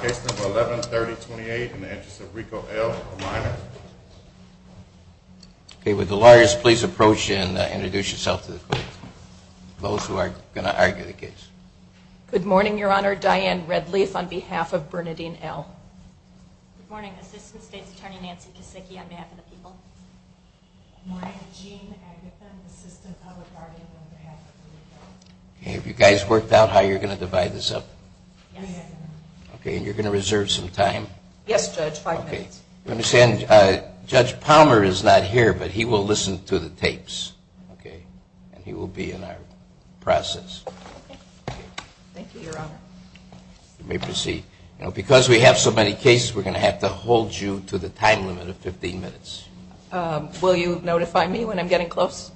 Case number 11-3028 in the Interest of Rico L, a minor. Okay, would the lawyers please approach and introduce yourselves to the court. Those who are going to argue the case. Good morning, Your Honor. Diane Redleaf on behalf of Bernadine L. Good morning. Assistant State's Attorney Nancy Kosicki on behalf of the people. Good morning. Jean Agathon, Assistant Public Guardian on behalf of Rico. Have you guys worked out how you're going to divide this up? Yes. Okay, and you're going to reserve some time? Yes, Judge, five minutes. Okay. You understand, Judge Palmer is not here, but he will listen to the tapes, okay? And he will be in our process. Thank you, Your Honor. You may proceed. Because we have so many cases, we're going to have to hold you to the time limit of 15 minutes. Will you notify me when I'm getting close?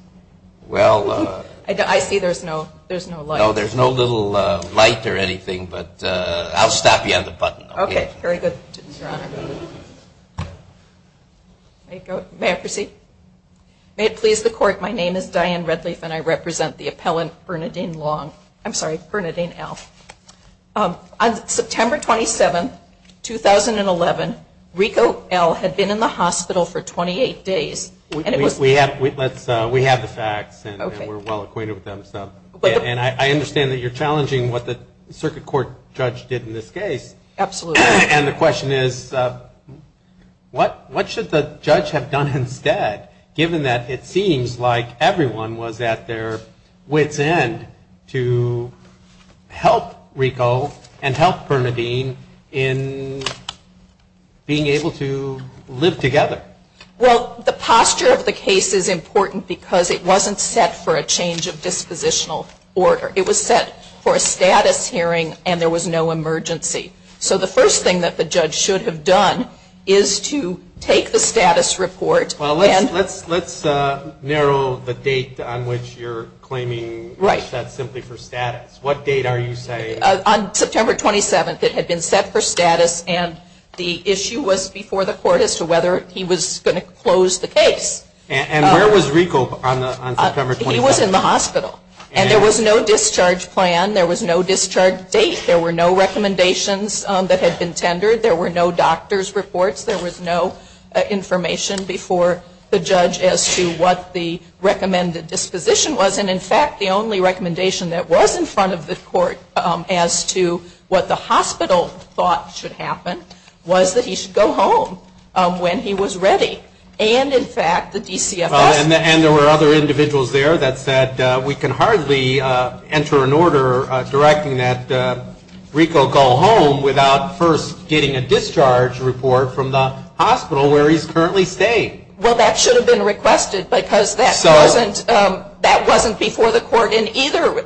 Well. I see there's no light. No, there's no little light or anything, but I'll stop you at the button. Okay, very good, Your Honor. May I proceed? May it please the Court, my name is Diane Redleaf and I represent the appellant Bernadine Long. I'm sorry, Bernadine L. On September 27, 2011, Rico L. had been in the hospital for 28 days. We have the facts and we're well acquainted with them, and I understand that you're challenging what the circuit court judge did in this case. Absolutely. And the question is, what should the judge have done instead, given that it seems like everyone was at their wit's end to help Rico and help Bernadine in being able to live together? Well, the posture of the case is important because it wasn't set for a change of dispositional order. It was set for a status hearing and there was no emergency. So the first thing that the judge should have done is to take the status report. Well, let's narrow the date on which you're claiming that's simply for status. What date are you saying? On September 27, it had been set for status, and the issue was before the court as to whether he was going to close the case. And where was Rico on September 27? He was in the hospital. And there was no discharge plan. There was no discharge date. There were no recommendations that had been tendered. There were no doctor's reports. There was no information before the judge as to what the recommended disposition was, and, in fact, the only recommendation that was in front of the court as to what the hospital thought should happen was that he should go home when he was ready. And, in fact, the DCFS. And there were other individuals there that said, we can hardly enter an order directing that Rico go home without first getting a discharge report from the hospital where he's currently staying. Well, that should have been requested because that wasn't before the court in either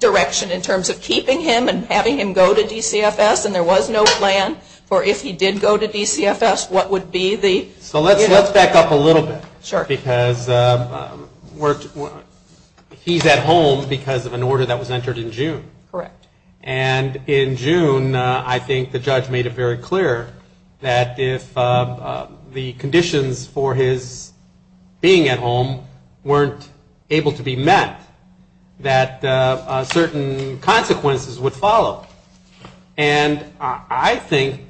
direction in terms of keeping him and having him go to DCFS, and there was no plan for if he did go to DCFS, what would be the... So let's back up a little bit. Sure. Because he's at home because of an order that was entered in June. Correct. And in June, I think the judge made it very clear that if the conditions for his being at home weren't able to be met, that certain consequences would follow. And I think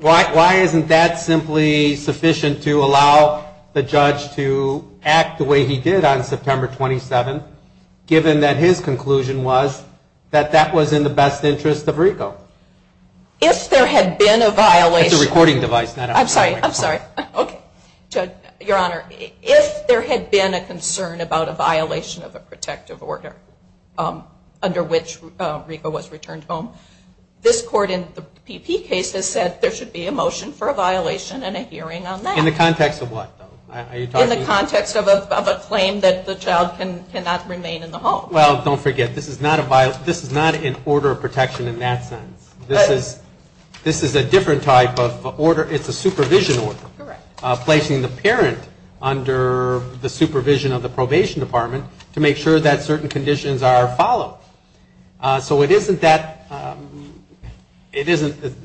why isn't that simply sufficient to allow the judge to act the way he did on September 27th, given that his conclusion was that that was in the best interest of Rico? If there had been a violation... It's a recording device. I'm sorry. I'm sorry. Okay. Your Honor, if there had been a concern about a violation of a protective order under which Rico was returned home, this court in the PP case has said there should be a motion for a violation and a hearing on that. In the context of what? In the context of a claim that the child cannot remain in the home. Well, don't forget, this is not an order of protection in that sense. This is a different type of order. It's a supervision order. Correct. Placing the parent under the supervision of the probation department to make sure that certain conditions are followed. So it isn't the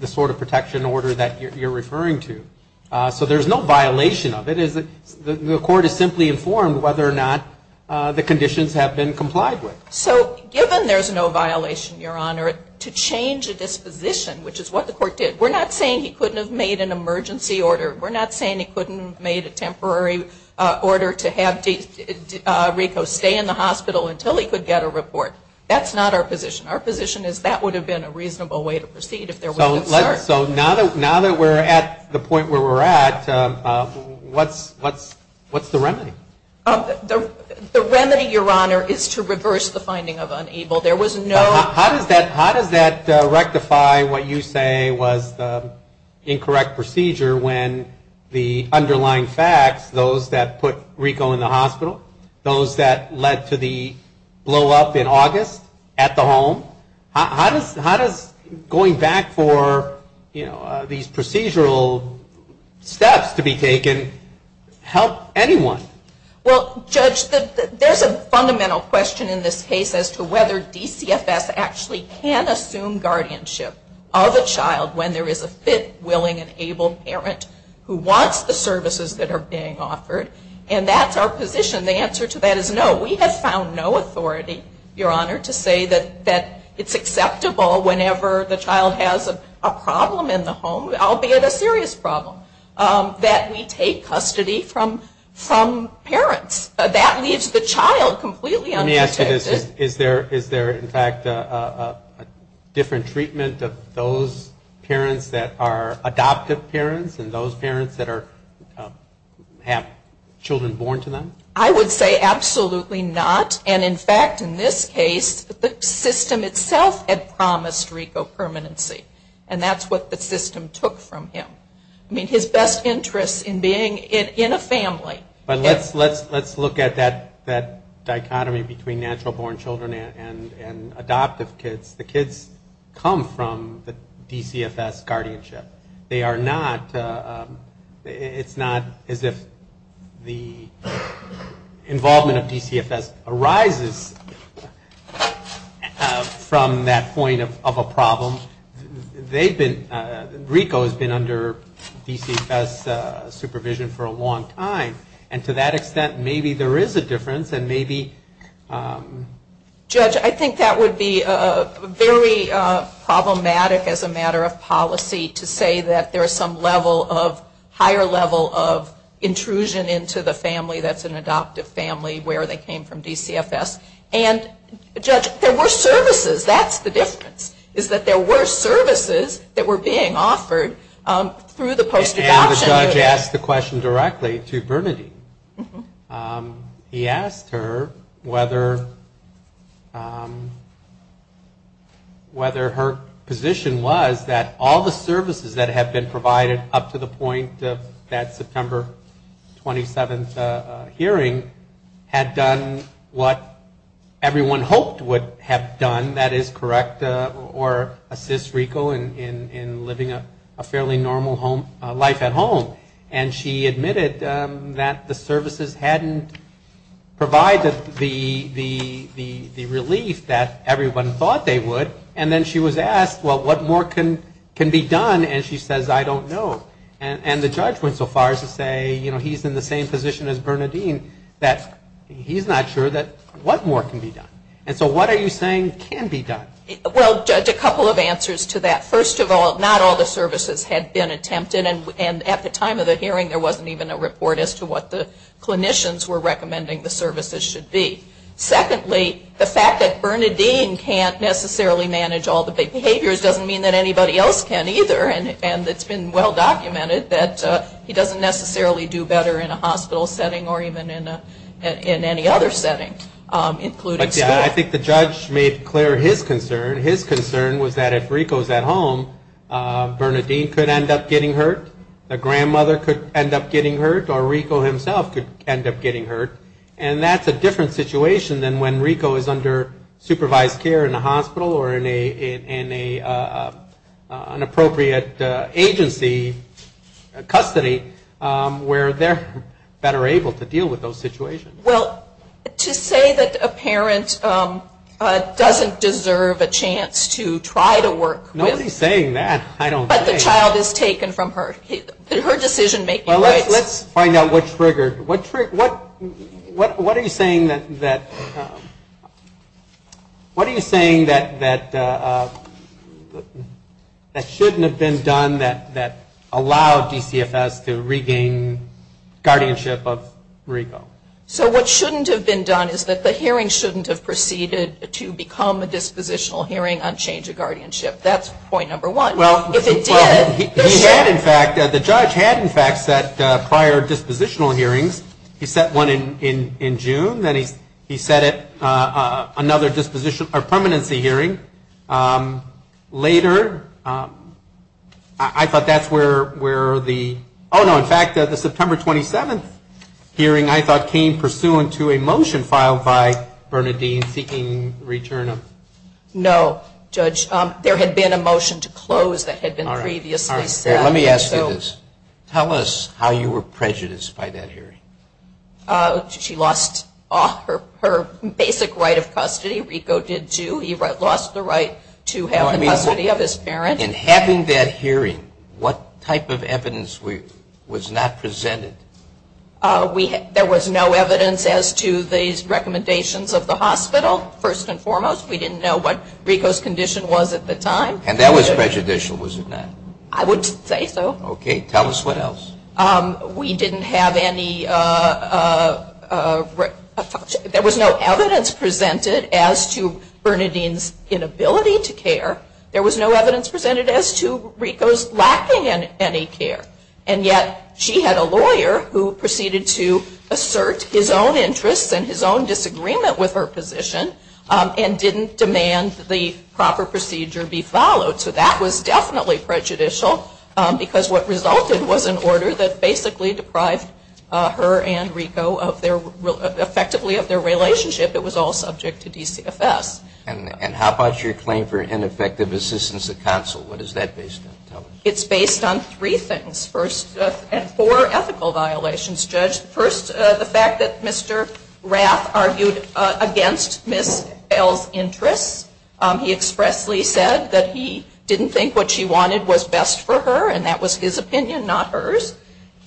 sort of protection order that you're referring to. So there's no violation of it. The court is simply informed whether or not the conditions have been complied with. So given there's no violation, Your Honor, to change a disposition, which is what the court did, we're not saying he couldn't have made an emergency order. We're not saying he couldn't have made a temporary order to have Rico stay in the hospital until he could get a report. That's not our position. Our position is that would have been a reasonable way to proceed if there was concern. So now that we're at the point where we're at, what's the remedy? The remedy, Your Honor, is to reverse the finding of unable. How does that rectify what you say was the incorrect procedure when the underlying facts, those that put Rico in the hospital, those that led to the blowup in August at the home, how does going back for, you know, these procedural steps to be taken help anyone? Well, Judge, there's a fundamental question in this case as to whether DCFS actually can assume guardianship of a child when there is a fit, willing, and able parent who wants the services that are being offered. And that's our position. The answer to that is no. We have found no authority, Your Honor, to say that it's acceptable whenever the child has a problem in the home, albeit a serious problem, that we take custody from parents. That leaves the child completely unprotected. Let me ask you this. Is there, in fact, a different treatment of those parents that are adoptive parents and those parents that have children born to them? I would say absolutely not. And, in fact, in this case, the system itself had promised Rico permanency. And that's what the system took from him. I mean, his best interest in being in a family. But let's look at that dichotomy between natural-born children and adoptive kids. The kids come from the DCFS guardianship. They are not, it's not as if the involvement of DCFS arises from that point of a problem. They've been, Rico has been under DCFS supervision for a long time. And to that extent, maybe there is a difference, and maybe. Judge, I think that would be very problematic as a matter of policy to say that there is some level of, higher level of intrusion into the family that's an adoptive family where they came from DCFS. And, Judge, there were services. That's the difference, is that there were services that were being offered through the post-adoption. And the judge asked the question directly to Bernadine. He asked her whether her position was that all the services that had been provided up to the point of that September 27th hearing had done what everyone hoped would have done, that is correct, or assist Rico in living a fairly normal life at home. And she admitted that the services hadn't provided the relief that everyone thought they would. And then she was asked, well, what more can be done, and she says, I don't know. And the judge went so far as to say, you know, he's in the same position as Bernadine, that he's not sure that what more can be done. And so what are you saying can be done? Well, Judge, a couple of answers to that. First of all, not all the services had been attempted, and at the time of the hearing there wasn't even a report as to what the clinicians were recommending the services should be. Secondly, the fact that Bernadine can't necessarily manage all the behaviors doesn't mean that anybody else can either, and it's been well documented that he doesn't necessarily do better in a hospital setting or even in any other setting, including school. And I think the judge made clear his concern. His concern was that if Rico was at home, Bernadine could end up getting hurt, a grandmother could end up getting hurt, or Rico himself could end up getting hurt. And that's a different situation than when Rico is under supervised care in a hospital or in an appropriate agency, custody, where they're better able to deal with those situations. Well, to say that a parent doesn't deserve a chance to try to work with Nobody's saying that. I don't think. But the child is taken from her. Her decision-making rights. Well, let's find out what triggered. What are you saying that shouldn't have been done that allowed DCFS to regain guardianship of Rico? So what shouldn't have been done is that the hearing shouldn't have proceeded to become a dispositional hearing on change of guardianship. That's point number one. Well, he had, in fact, the judge had, in fact, set prior dispositional hearings. He set one in June. Then he set another disposition or permanency hearing later. I thought that's where the oh, no, in fact, the September 27th hearing, I thought came pursuant to a motion filed by Bernadine seeking return of. No, Judge. There had been a motion to close that had been previously set. Let me ask you this. Tell us how you were prejudiced by that hearing. She lost her basic right of custody. Rico did, too. He lost the right to have the custody of his parents. In having that hearing, what type of evidence was not presented? There was no evidence as to these recommendations of the hospital, first and foremost. We didn't know what Rico's condition was at the time. And that was prejudicial, was it not? I would say so. Okay. Tell us what else. We didn't have any, there was no evidence presented as to Bernadine's inability to care. There was no evidence presented as to Rico's lacking in any care. And yet she had a lawyer who proceeded to assert his own interests and his own disagreement with her position and didn't demand the proper procedure be followed. So that was definitely prejudicial because what resulted was an order that basically deprived her and Rico effectively of their relationship. It was all subject to DCFS. And how about your claim for ineffective assistance at counsel? What is that based on? It's based on three things, first, and four ethical violations, Judge. First, the fact that Mr. Rath argued against Ms. Bell's interests. He expressly said that he didn't think what she wanted was best for her and that was his opinion, not hers.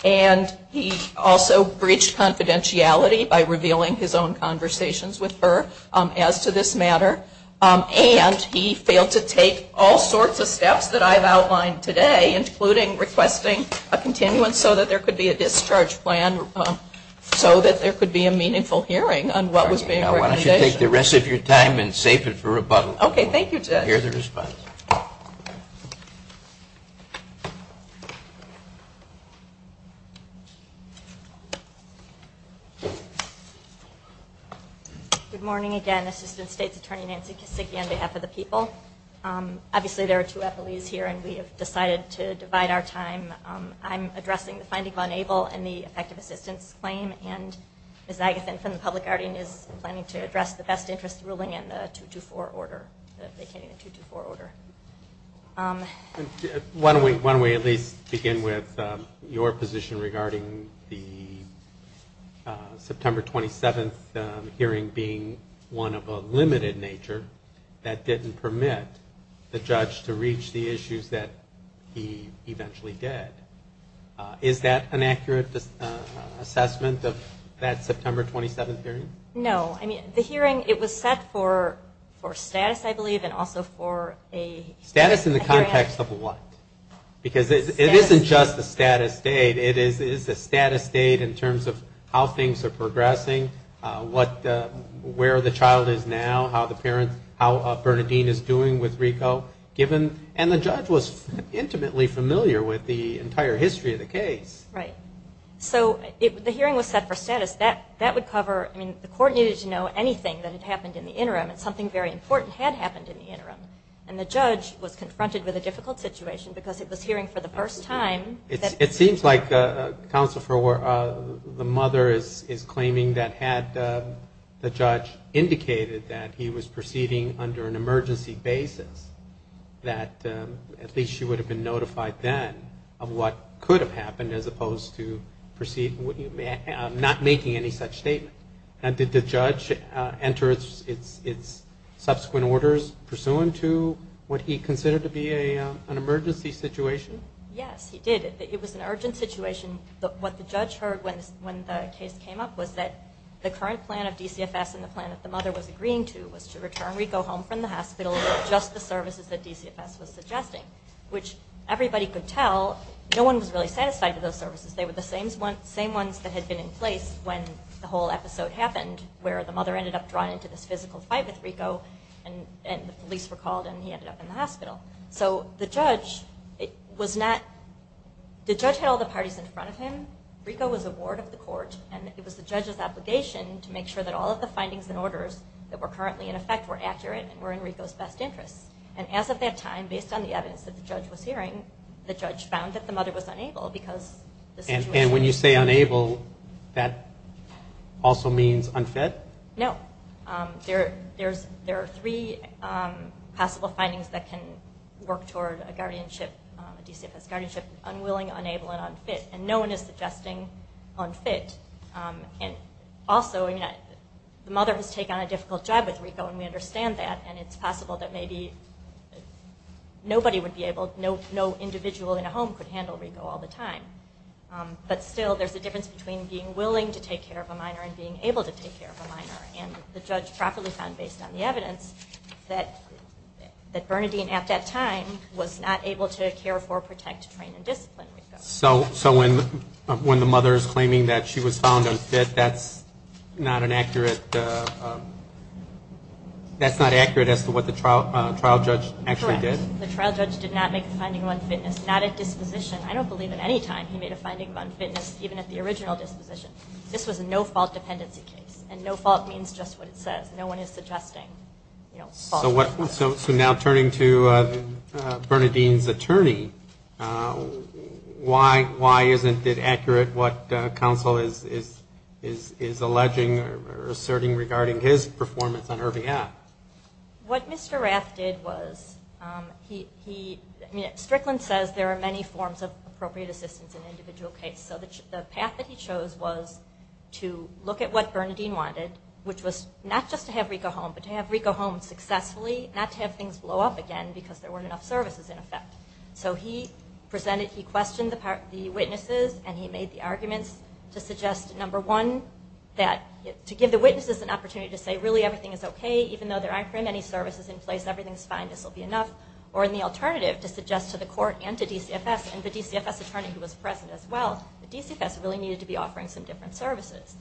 And he also breached confidentiality by revealing his own conversations with her as to this matter. And he failed to take all sorts of steps that I've outlined today, including requesting a continuance so that there could be a discharge plan so that there could be a meaningful hearing on what was being recommended. Why don't you take the rest of your time and save it for rebuttal. Okay, thank you, Judge. And hear the response. Thank you. Good morning again. Assistant State's Attorney Nancy Kisicki on behalf of the people. Obviously there are two affilies here and we have decided to divide our time. I'm addressing the finding of unable and the effective assistance claim, and Ms. Agathon from the Public Guardian is planning to address the best interest ruling in the 224 order. Why don't we at least begin with your position regarding the September 27th hearing being one of a limited nature that didn't permit the judge to reach the issues that he eventually did. Is that an accurate assessment of that September 27th hearing? No. I mean, the hearing, it was set for status, I believe, and also for a hearing. Status in the context of what? Because it isn't just a status date. It is a status date in terms of how things are progressing, where the child is now, how Bernardine is doing with Rico, and the judge was intimately familiar with the entire history of the case. Right. So the hearing was set for status. That would cover, I mean, the court needed to know anything that had happened in the interim, and something very important had happened in the interim, and the judge was confronted with a difficult situation because it was hearing for the first time. It seems like, Counsel, the mother is claiming that had the judge indicated that he was proceeding under an emergency basis, that at least she would have been notified then of what could have happened as opposed to not making any such statement. Did the judge enter its subsequent orders pursuant to what he considered to be an emergency situation? Yes, he did. It was an urgent situation. What the judge heard when the case came up was that the current plan of DCFS and the plan that the mother was agreeing to was to return Rico home from the hospital with just the services that DCFS was suggesting, which everybody could tell no one was really satisfied with those services. They were the same ones that had been in place when the whole episode happened where the mother ended up drawn into this physical fight with Rico, and the police were called, and he ended up in the hospital. So the judge had all the parties in front of him. Rico was a ward of the court, and it was the judge's obligation to make sure that all of the findings and orders that were currently in effect were accurate and were in Rico's best interest. And as of that time, based on the evidence that the judge was hearing, the judge found that the mother was unable because the situation... And when you say unable, that also means unfit? No. There are three possible findings that can work toward a DCFS guardianship, unwilling, unable, and unfit, and no one is suggesting unfit. Also, the mother has taken on a difficult job with Rico, and we understand that, and it's possible that maybe nobody would be able, no individual in a home could handle Rico all the time. But still, there's a difference between being willing to take care of a minor and being able to take care of a minor. And the judge properly found, based on the evidence, that Bernadine at that time was not able to care for, protect, train, and discipline Rico. So when the mother is claiming that she was found unfit, that's not accurate as to what the trial judge actually did? Correct. The trial judge did not make a finding of unfitness, not at disposition. I don't believe at any time he made a finding of unfitness, even at the original disposition. This was a no-fault dependency case, and no-fault means just what it says. No one is suggesting fault. So now turning to Bernadine's attorney, why isn't it accurate what counsel is alleging or asserting regarding his performance on her behalf? What Mr. Rath did was he, I mean, Strickland says there are many forms of appropriate assistance in an individual case. So the path that he chose was to look at what Bernadine wanted, which was not just to have Rico home, but to have Rico home successfully, not to have things blow up again because there weren't enough services in effect. So he presented, he questioned the witnesses, and he made the arguments to suggest, number one, that to give the witnesses an opportunity to say, really everything is okay, even though there aren't very many services in place, everything is fine, this will be enough, or in the alternative, to suggest to the court and to DCFS, and the DCFS attorney who was present as well, that DCFS really needed to be offering some different services.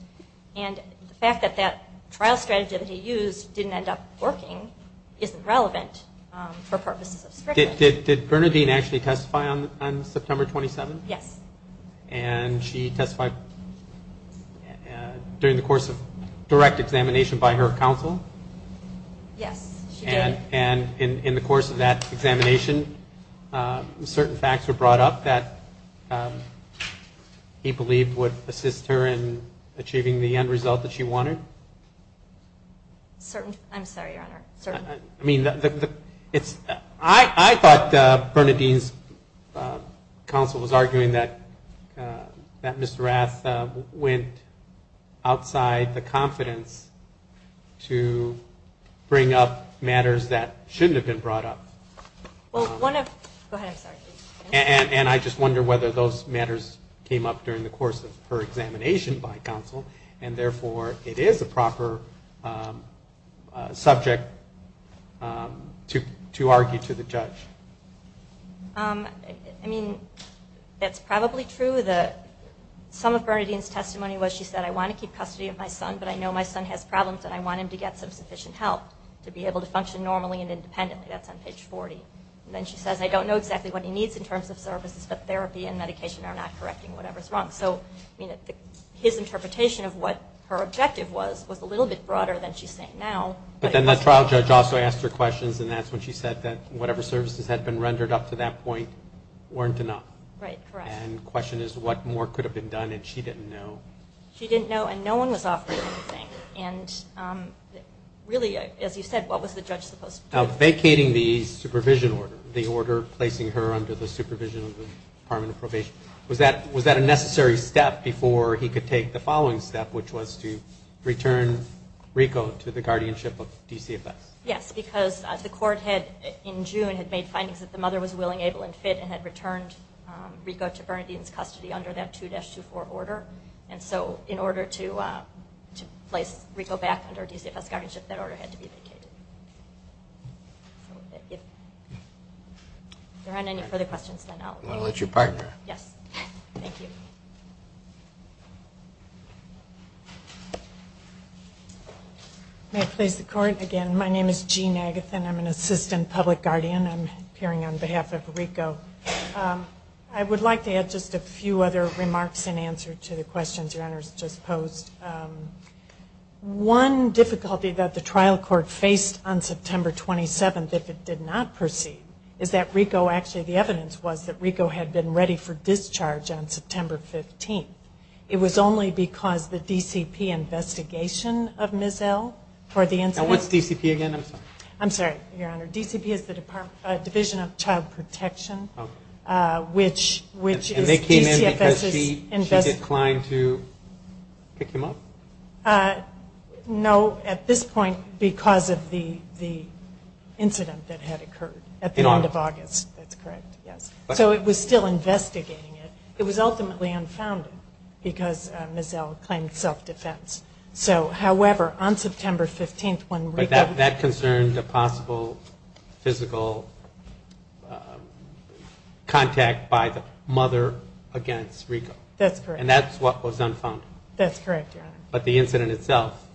And the fact that that trial strategy that he used didn't end up working isn't relevant for purposes of Strickland. Did Bernadine actually testify on September 27th? Yes. And she testified during the course of direct examination by her counsel? Yes, she did. And in the course of that examination, certain facts were brought up that he believed would assist her in achieving the end result that she wanted? Certain, I'm sorry, Your Honor, certain. I mean, I thought Bernadine's counsel was arguing that Mr. Rath went outside the confidence to bring up matters that shouldn't have been brought up. Well, one of, go ahead, I'm sorry. And I just wonder whether those matters came up during the course of her examination by counsel, and therefore it is a proper subject to argue to the judge. I mean, that's probably true. Some of Bernadine's testimony was she said, I want to keep custody of my son, but I know my son has problems, and I want him to get some sufficient help to be able to function normally and independently. That's on page 40. Then she says, I don't know exactly what he needs in terms of services, but therapy and medication are not correcting whatever's wrong. So his interpretation of what her objective was was a little bit broader than she's saying now. But then the trial judge also asked her questions, and that's when she said that whatever services had been rendered up to that point weren't enough. Right, correct. And the question is what more could have been done, and she didn't know. She didn't know, and no one was offering anything. And really, as you said, what was the judge supposed to do? Now, vacating the supervision order, the order placing her under the supervision of the Department of Probation, was that a necessary step before he could take the following step, which was to return Rico to the guardianship of DCFS? Yes, because the court had, in June, had made findings that the mother was willing, able, and fit and had returned Rico to Bernadine's custody under that 2-24 order. And so in order to place Rico back under DCFS guardianship, that order had to be vacated. If there aren't any further questions, then I'll let you partner. Yes, thank you. May I please the court again? My name is Jean Agathin. I'm an assistant public guardian. I'm appearing on behalf of Rico. I would like to add just a few other remarks in answer to the questions your Honor has just posed. One difficulty that the trial court faced on September 27th, if it did not proceed, is that Rico, actually the evidence was that Rico had been ready for discharge on September 15th. It was only because the DCP investigation of Ms. L. And what's DCP again? I'm sorry. I'm sorry, your Honor. DCP is the Division of Child Protection. And they came in because she declined to pick him up? No, at this point because of the incident that had occurred at the end of August. That's correct, yes. So it was still investigating it. It was ultimately unfounded because Ms. L. claimed self-defense. So, however, on September 15th when Rico. But that concerned a possible physical contact by the mother against Rico. That's correct. And that's what was unfounded. That's correct, your Honor. But the incident itself,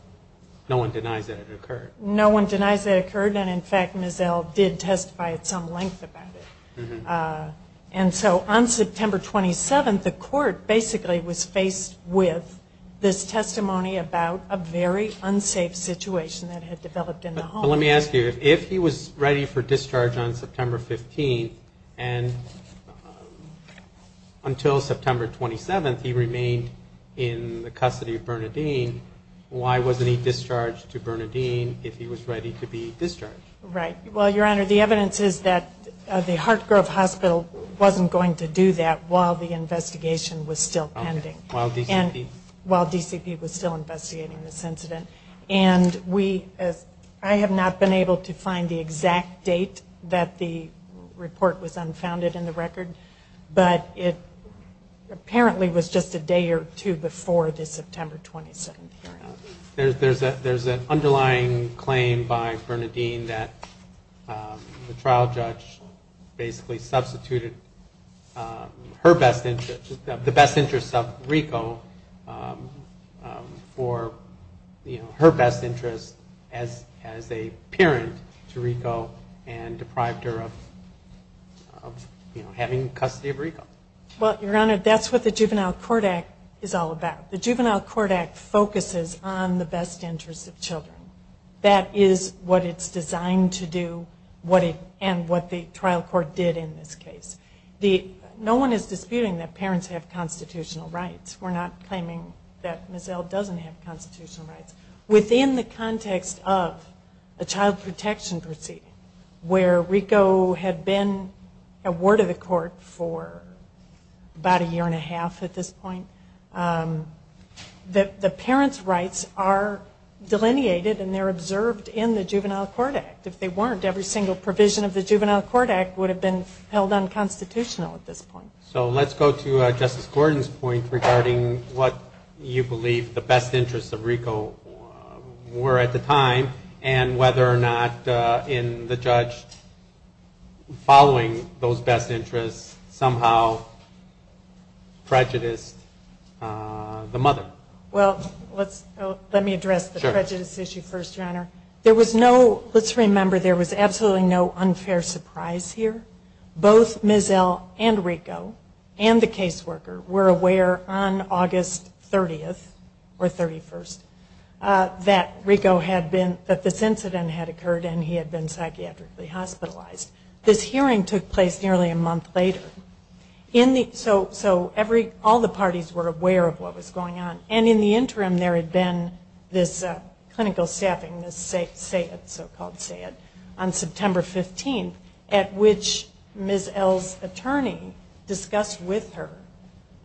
no one denies that it occurred. No one denies that it occurred. And, in fact, Ms. L. did testify at some length about it. And so on September 27th, the court basically was faced with this testimony about a very unsafe situation that had developed in the home. But let me ask you, if he was ready for discharge on September 15th, and until September 27th he remained in the custody of Bernadine, why wasn't he discharged to Bernadine if he was ready to be discharged? Right. Well, your Honor, the evidence is that the Hartgrove Hospital wasn't going to do that while the investigation was still pending. While DCP? While DCP was still investigating this incident. And I have not been able to find the exact date that the report was unfounded in the record, but it apparently was just a day or two before the September 27th hearing. There's an underlying claim by Bernadine that the trial judge basically substituted her best interest, the best interest of Rico for her best interest as a parent to Rico and deprived her of having custody of Rico. Well, your Honor, that's what the Juvenile Court Act is all about. The Juvenile Court Act focuses on the best interest of children. That is what it's designed to do and what the trial court did in this case. No one is disputing that parents have constitutional rights. We're not claiming that Ms. L. doesn't have constitutional rights. Within the context of a child protection proceeding where Rico had been a ward of the court for about a year and a half at this point, the parents' rights are delineated and they're observed in the Juvenile Court Act. If they weren't, every single provision of the Juvenile Court Act would have been held unconstitutional at this point. So let's go to Justice Gordon's point regarding what you believe the best interests of Rico were at the time and whether or not in the judge following those best interests somehow prejudiced the mother. Well, let me address the prejudice issue first, Your Honor. Let's remember there was absolutely no unfair surprise here. Both Ms. L. and Rico and the caseworker were aware on August 30th or 31st that this incident had occurred and he had been psychiatrically hospitalized. This hearing took place nearly a month later. So all the parties were aware of what was going on. And in the interim there had been this clinical staffing, this so-called SAID, on September 15th at which Ms. L.'s attorney discussed with her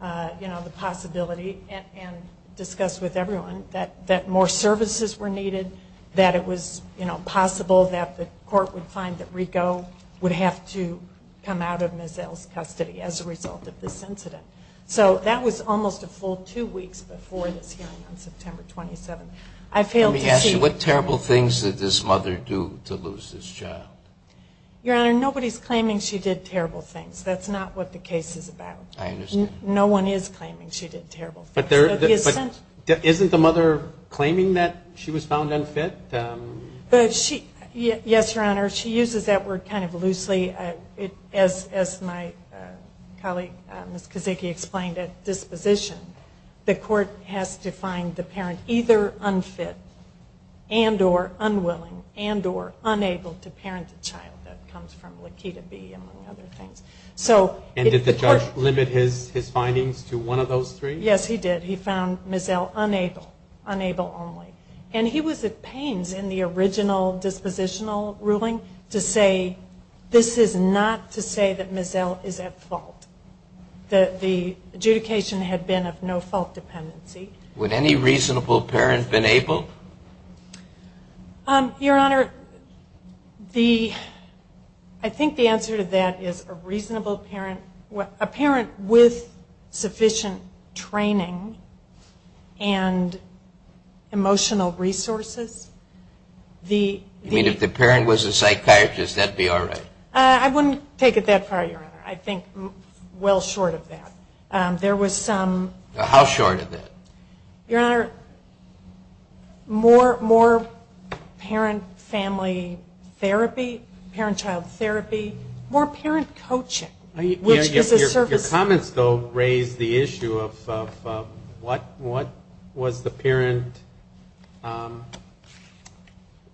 the possibility and discussed with everyone that more services were needed, that it was possible that the court would find that Rico would have to come out of Ms. L.'s custody as a result of this incident. So that was almost a full two weeks before this hearing on September 27th. Let me ask you, what terrible things did this mother do to lose this child? Your Honor, nobody's claiming she did terrible things. That's not what the case is about. I understand. No one is claiming she did terrible things. But isn't the mother claiming that she was found unfit? Yes, Your Honor. She uses that word kind of loosely. As my colleague Ms. Kozicki explained at disposition, the court has to find the parent either unfit and or unwilling and or unable to parent a child. That comes from Laquita B., among other things. And did the judge limit his findings to one of those three? Yes, he did. He found Ms. L. unable, unable only. And he was at pains in the original dispositional ruling to say, this is not to say that Ms. L. is at fault, that the adjudication had been of no fault dependency. Would any reasonable parent been able? Your Honor, I think the answer to that is a reasonable parent, a parent with sufficient training and emotional resources. You mean if the parent was a psychiatrist, that would be all right? I wouldn't take it that far, Your Honor. I think well short of that. How short of that? Your Honor, more parent family therapy, parent-child therapy, more parent coaching. Your comments, though, raise the issue of what was the parent,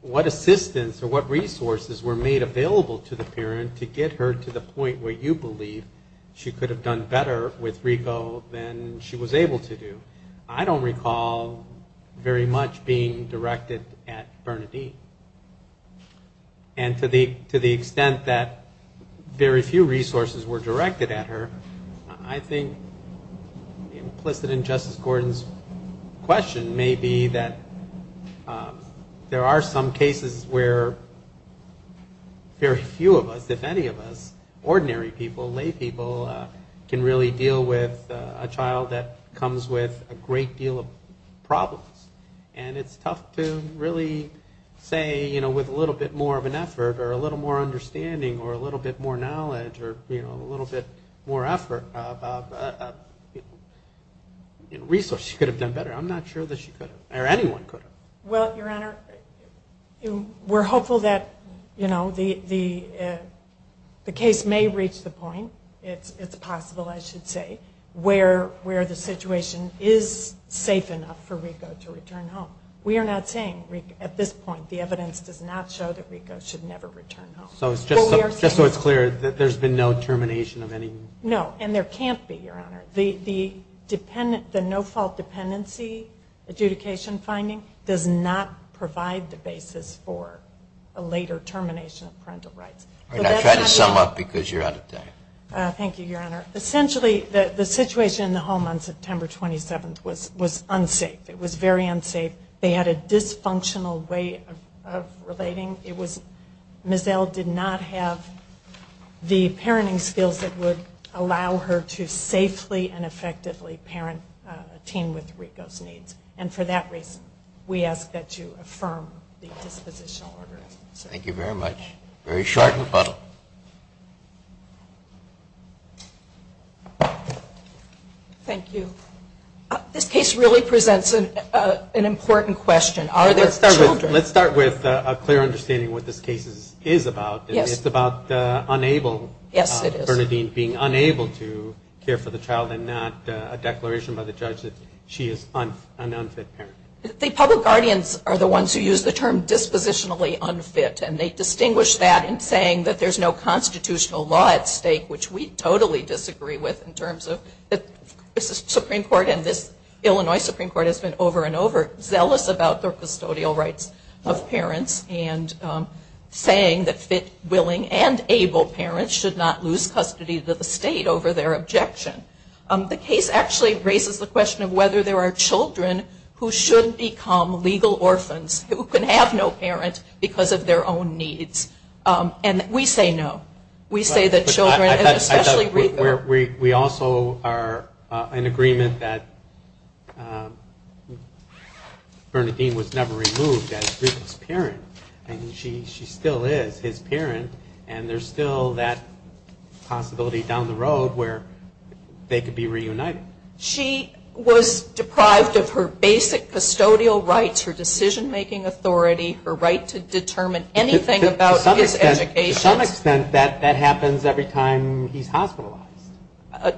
what assistance or what resources were made available to the parent to get her to the point where you believe she could have done better with RICO than she was able to do. I don't recall very much being directed at Bernadine. And to the extent that very few resources were directed at her, I think implicit in Justice Gordon's question may be that there are some cases where very few of us, if any of us, ordinary people, lay people, can really deal with a child that comes with a great deal of problems. And it's tough to really say, you know, with a little bit more of an effort or a little more understanding or a little bit more knowledge or, you know, a little bit more effort about resources she could have done better. I'm not sure that she could have or anyone could have. Well, Your Honor, we're hopeful that, you know, the case may reach the point, it's possible I should say, where the situation is safe enough for RICO to return home. We are not saying at this point the evidence does not show that RICO should never return home. Just so it's clear, there's been no termination of any? No, and there can't be, Your Honor. The no-fault dependency adjudication finding does not provide the basis for a later termination of parental rights. All right, now try to sum up because you're out of time. Thank you, Your Honor. Essentially, the situation in the home on September 27th was unsafe. It was very unsafe. They had a dysfunctional way of relating. Mizell did not have the parenting skills that would allow her to safely and effectively parent a teen with RICO's needs. And for that reason, we ask that you affirm the dispositional order. Thank you very much. Very short rebuttal. Thank you. This case really presents an important question. Let's start with a clear understanding of what this case is about. It's about unable, Bernadine being unable to care for the child and not a declaration by the judge that she is an unfit parent. The public guardians are the ones who use the term dispositionally unfit, and they distinguish that in saying that there's no constitutional law at stake, which we totally disagree with in terms of the Supreme Court and this Illinois Supreme Court has been over and over zealous about their custodial rights of parents and saying that fit, willing, and able parents should not lose custody of the state over their objection. The case actually raises the question of whether there are children who should become legal orphans who can have no parent because of their own needs. And we say no. We also are in agreement that Bernadine was never removed as Rika's parent, and she still is his parent, and there's still that possibility down the road where they could be reunited. She was deprived of her basic custodial rights, her decision-making authority, her right to determine anything about his education. To some extent, that happens every time he's hospitalized.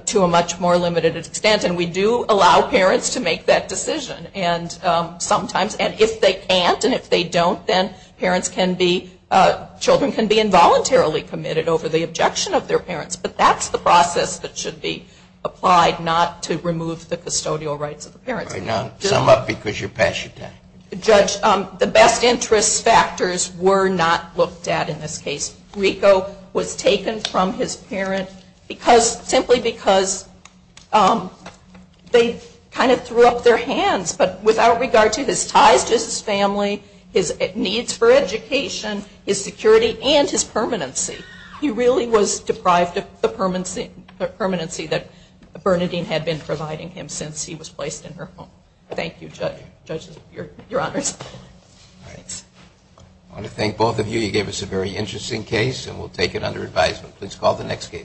To a much more limited extent, and we do allow parents to make that decision sometimes. And if they can't and if they don't, then children can be involuntarily committed over the objection of their parents. But that's the process that should be applied, not to remove the custodial rights of the parents. All right, now sum up because you're past your time. Judge, the best interest factors were not looked at in this case. Riko was taken from his parent simply because they kind of threw up their hands, but without regard to his ties to his family, his needs for education, his security, and his permanency. He really was deprived of the permanency that Bernadine had been providing him since he was placed in her home. Thank you, Judge. Judge, your honors. All right. I want to thank both of you. You gave us a very interesting case, and we'll take it under advisement. Please call the next case.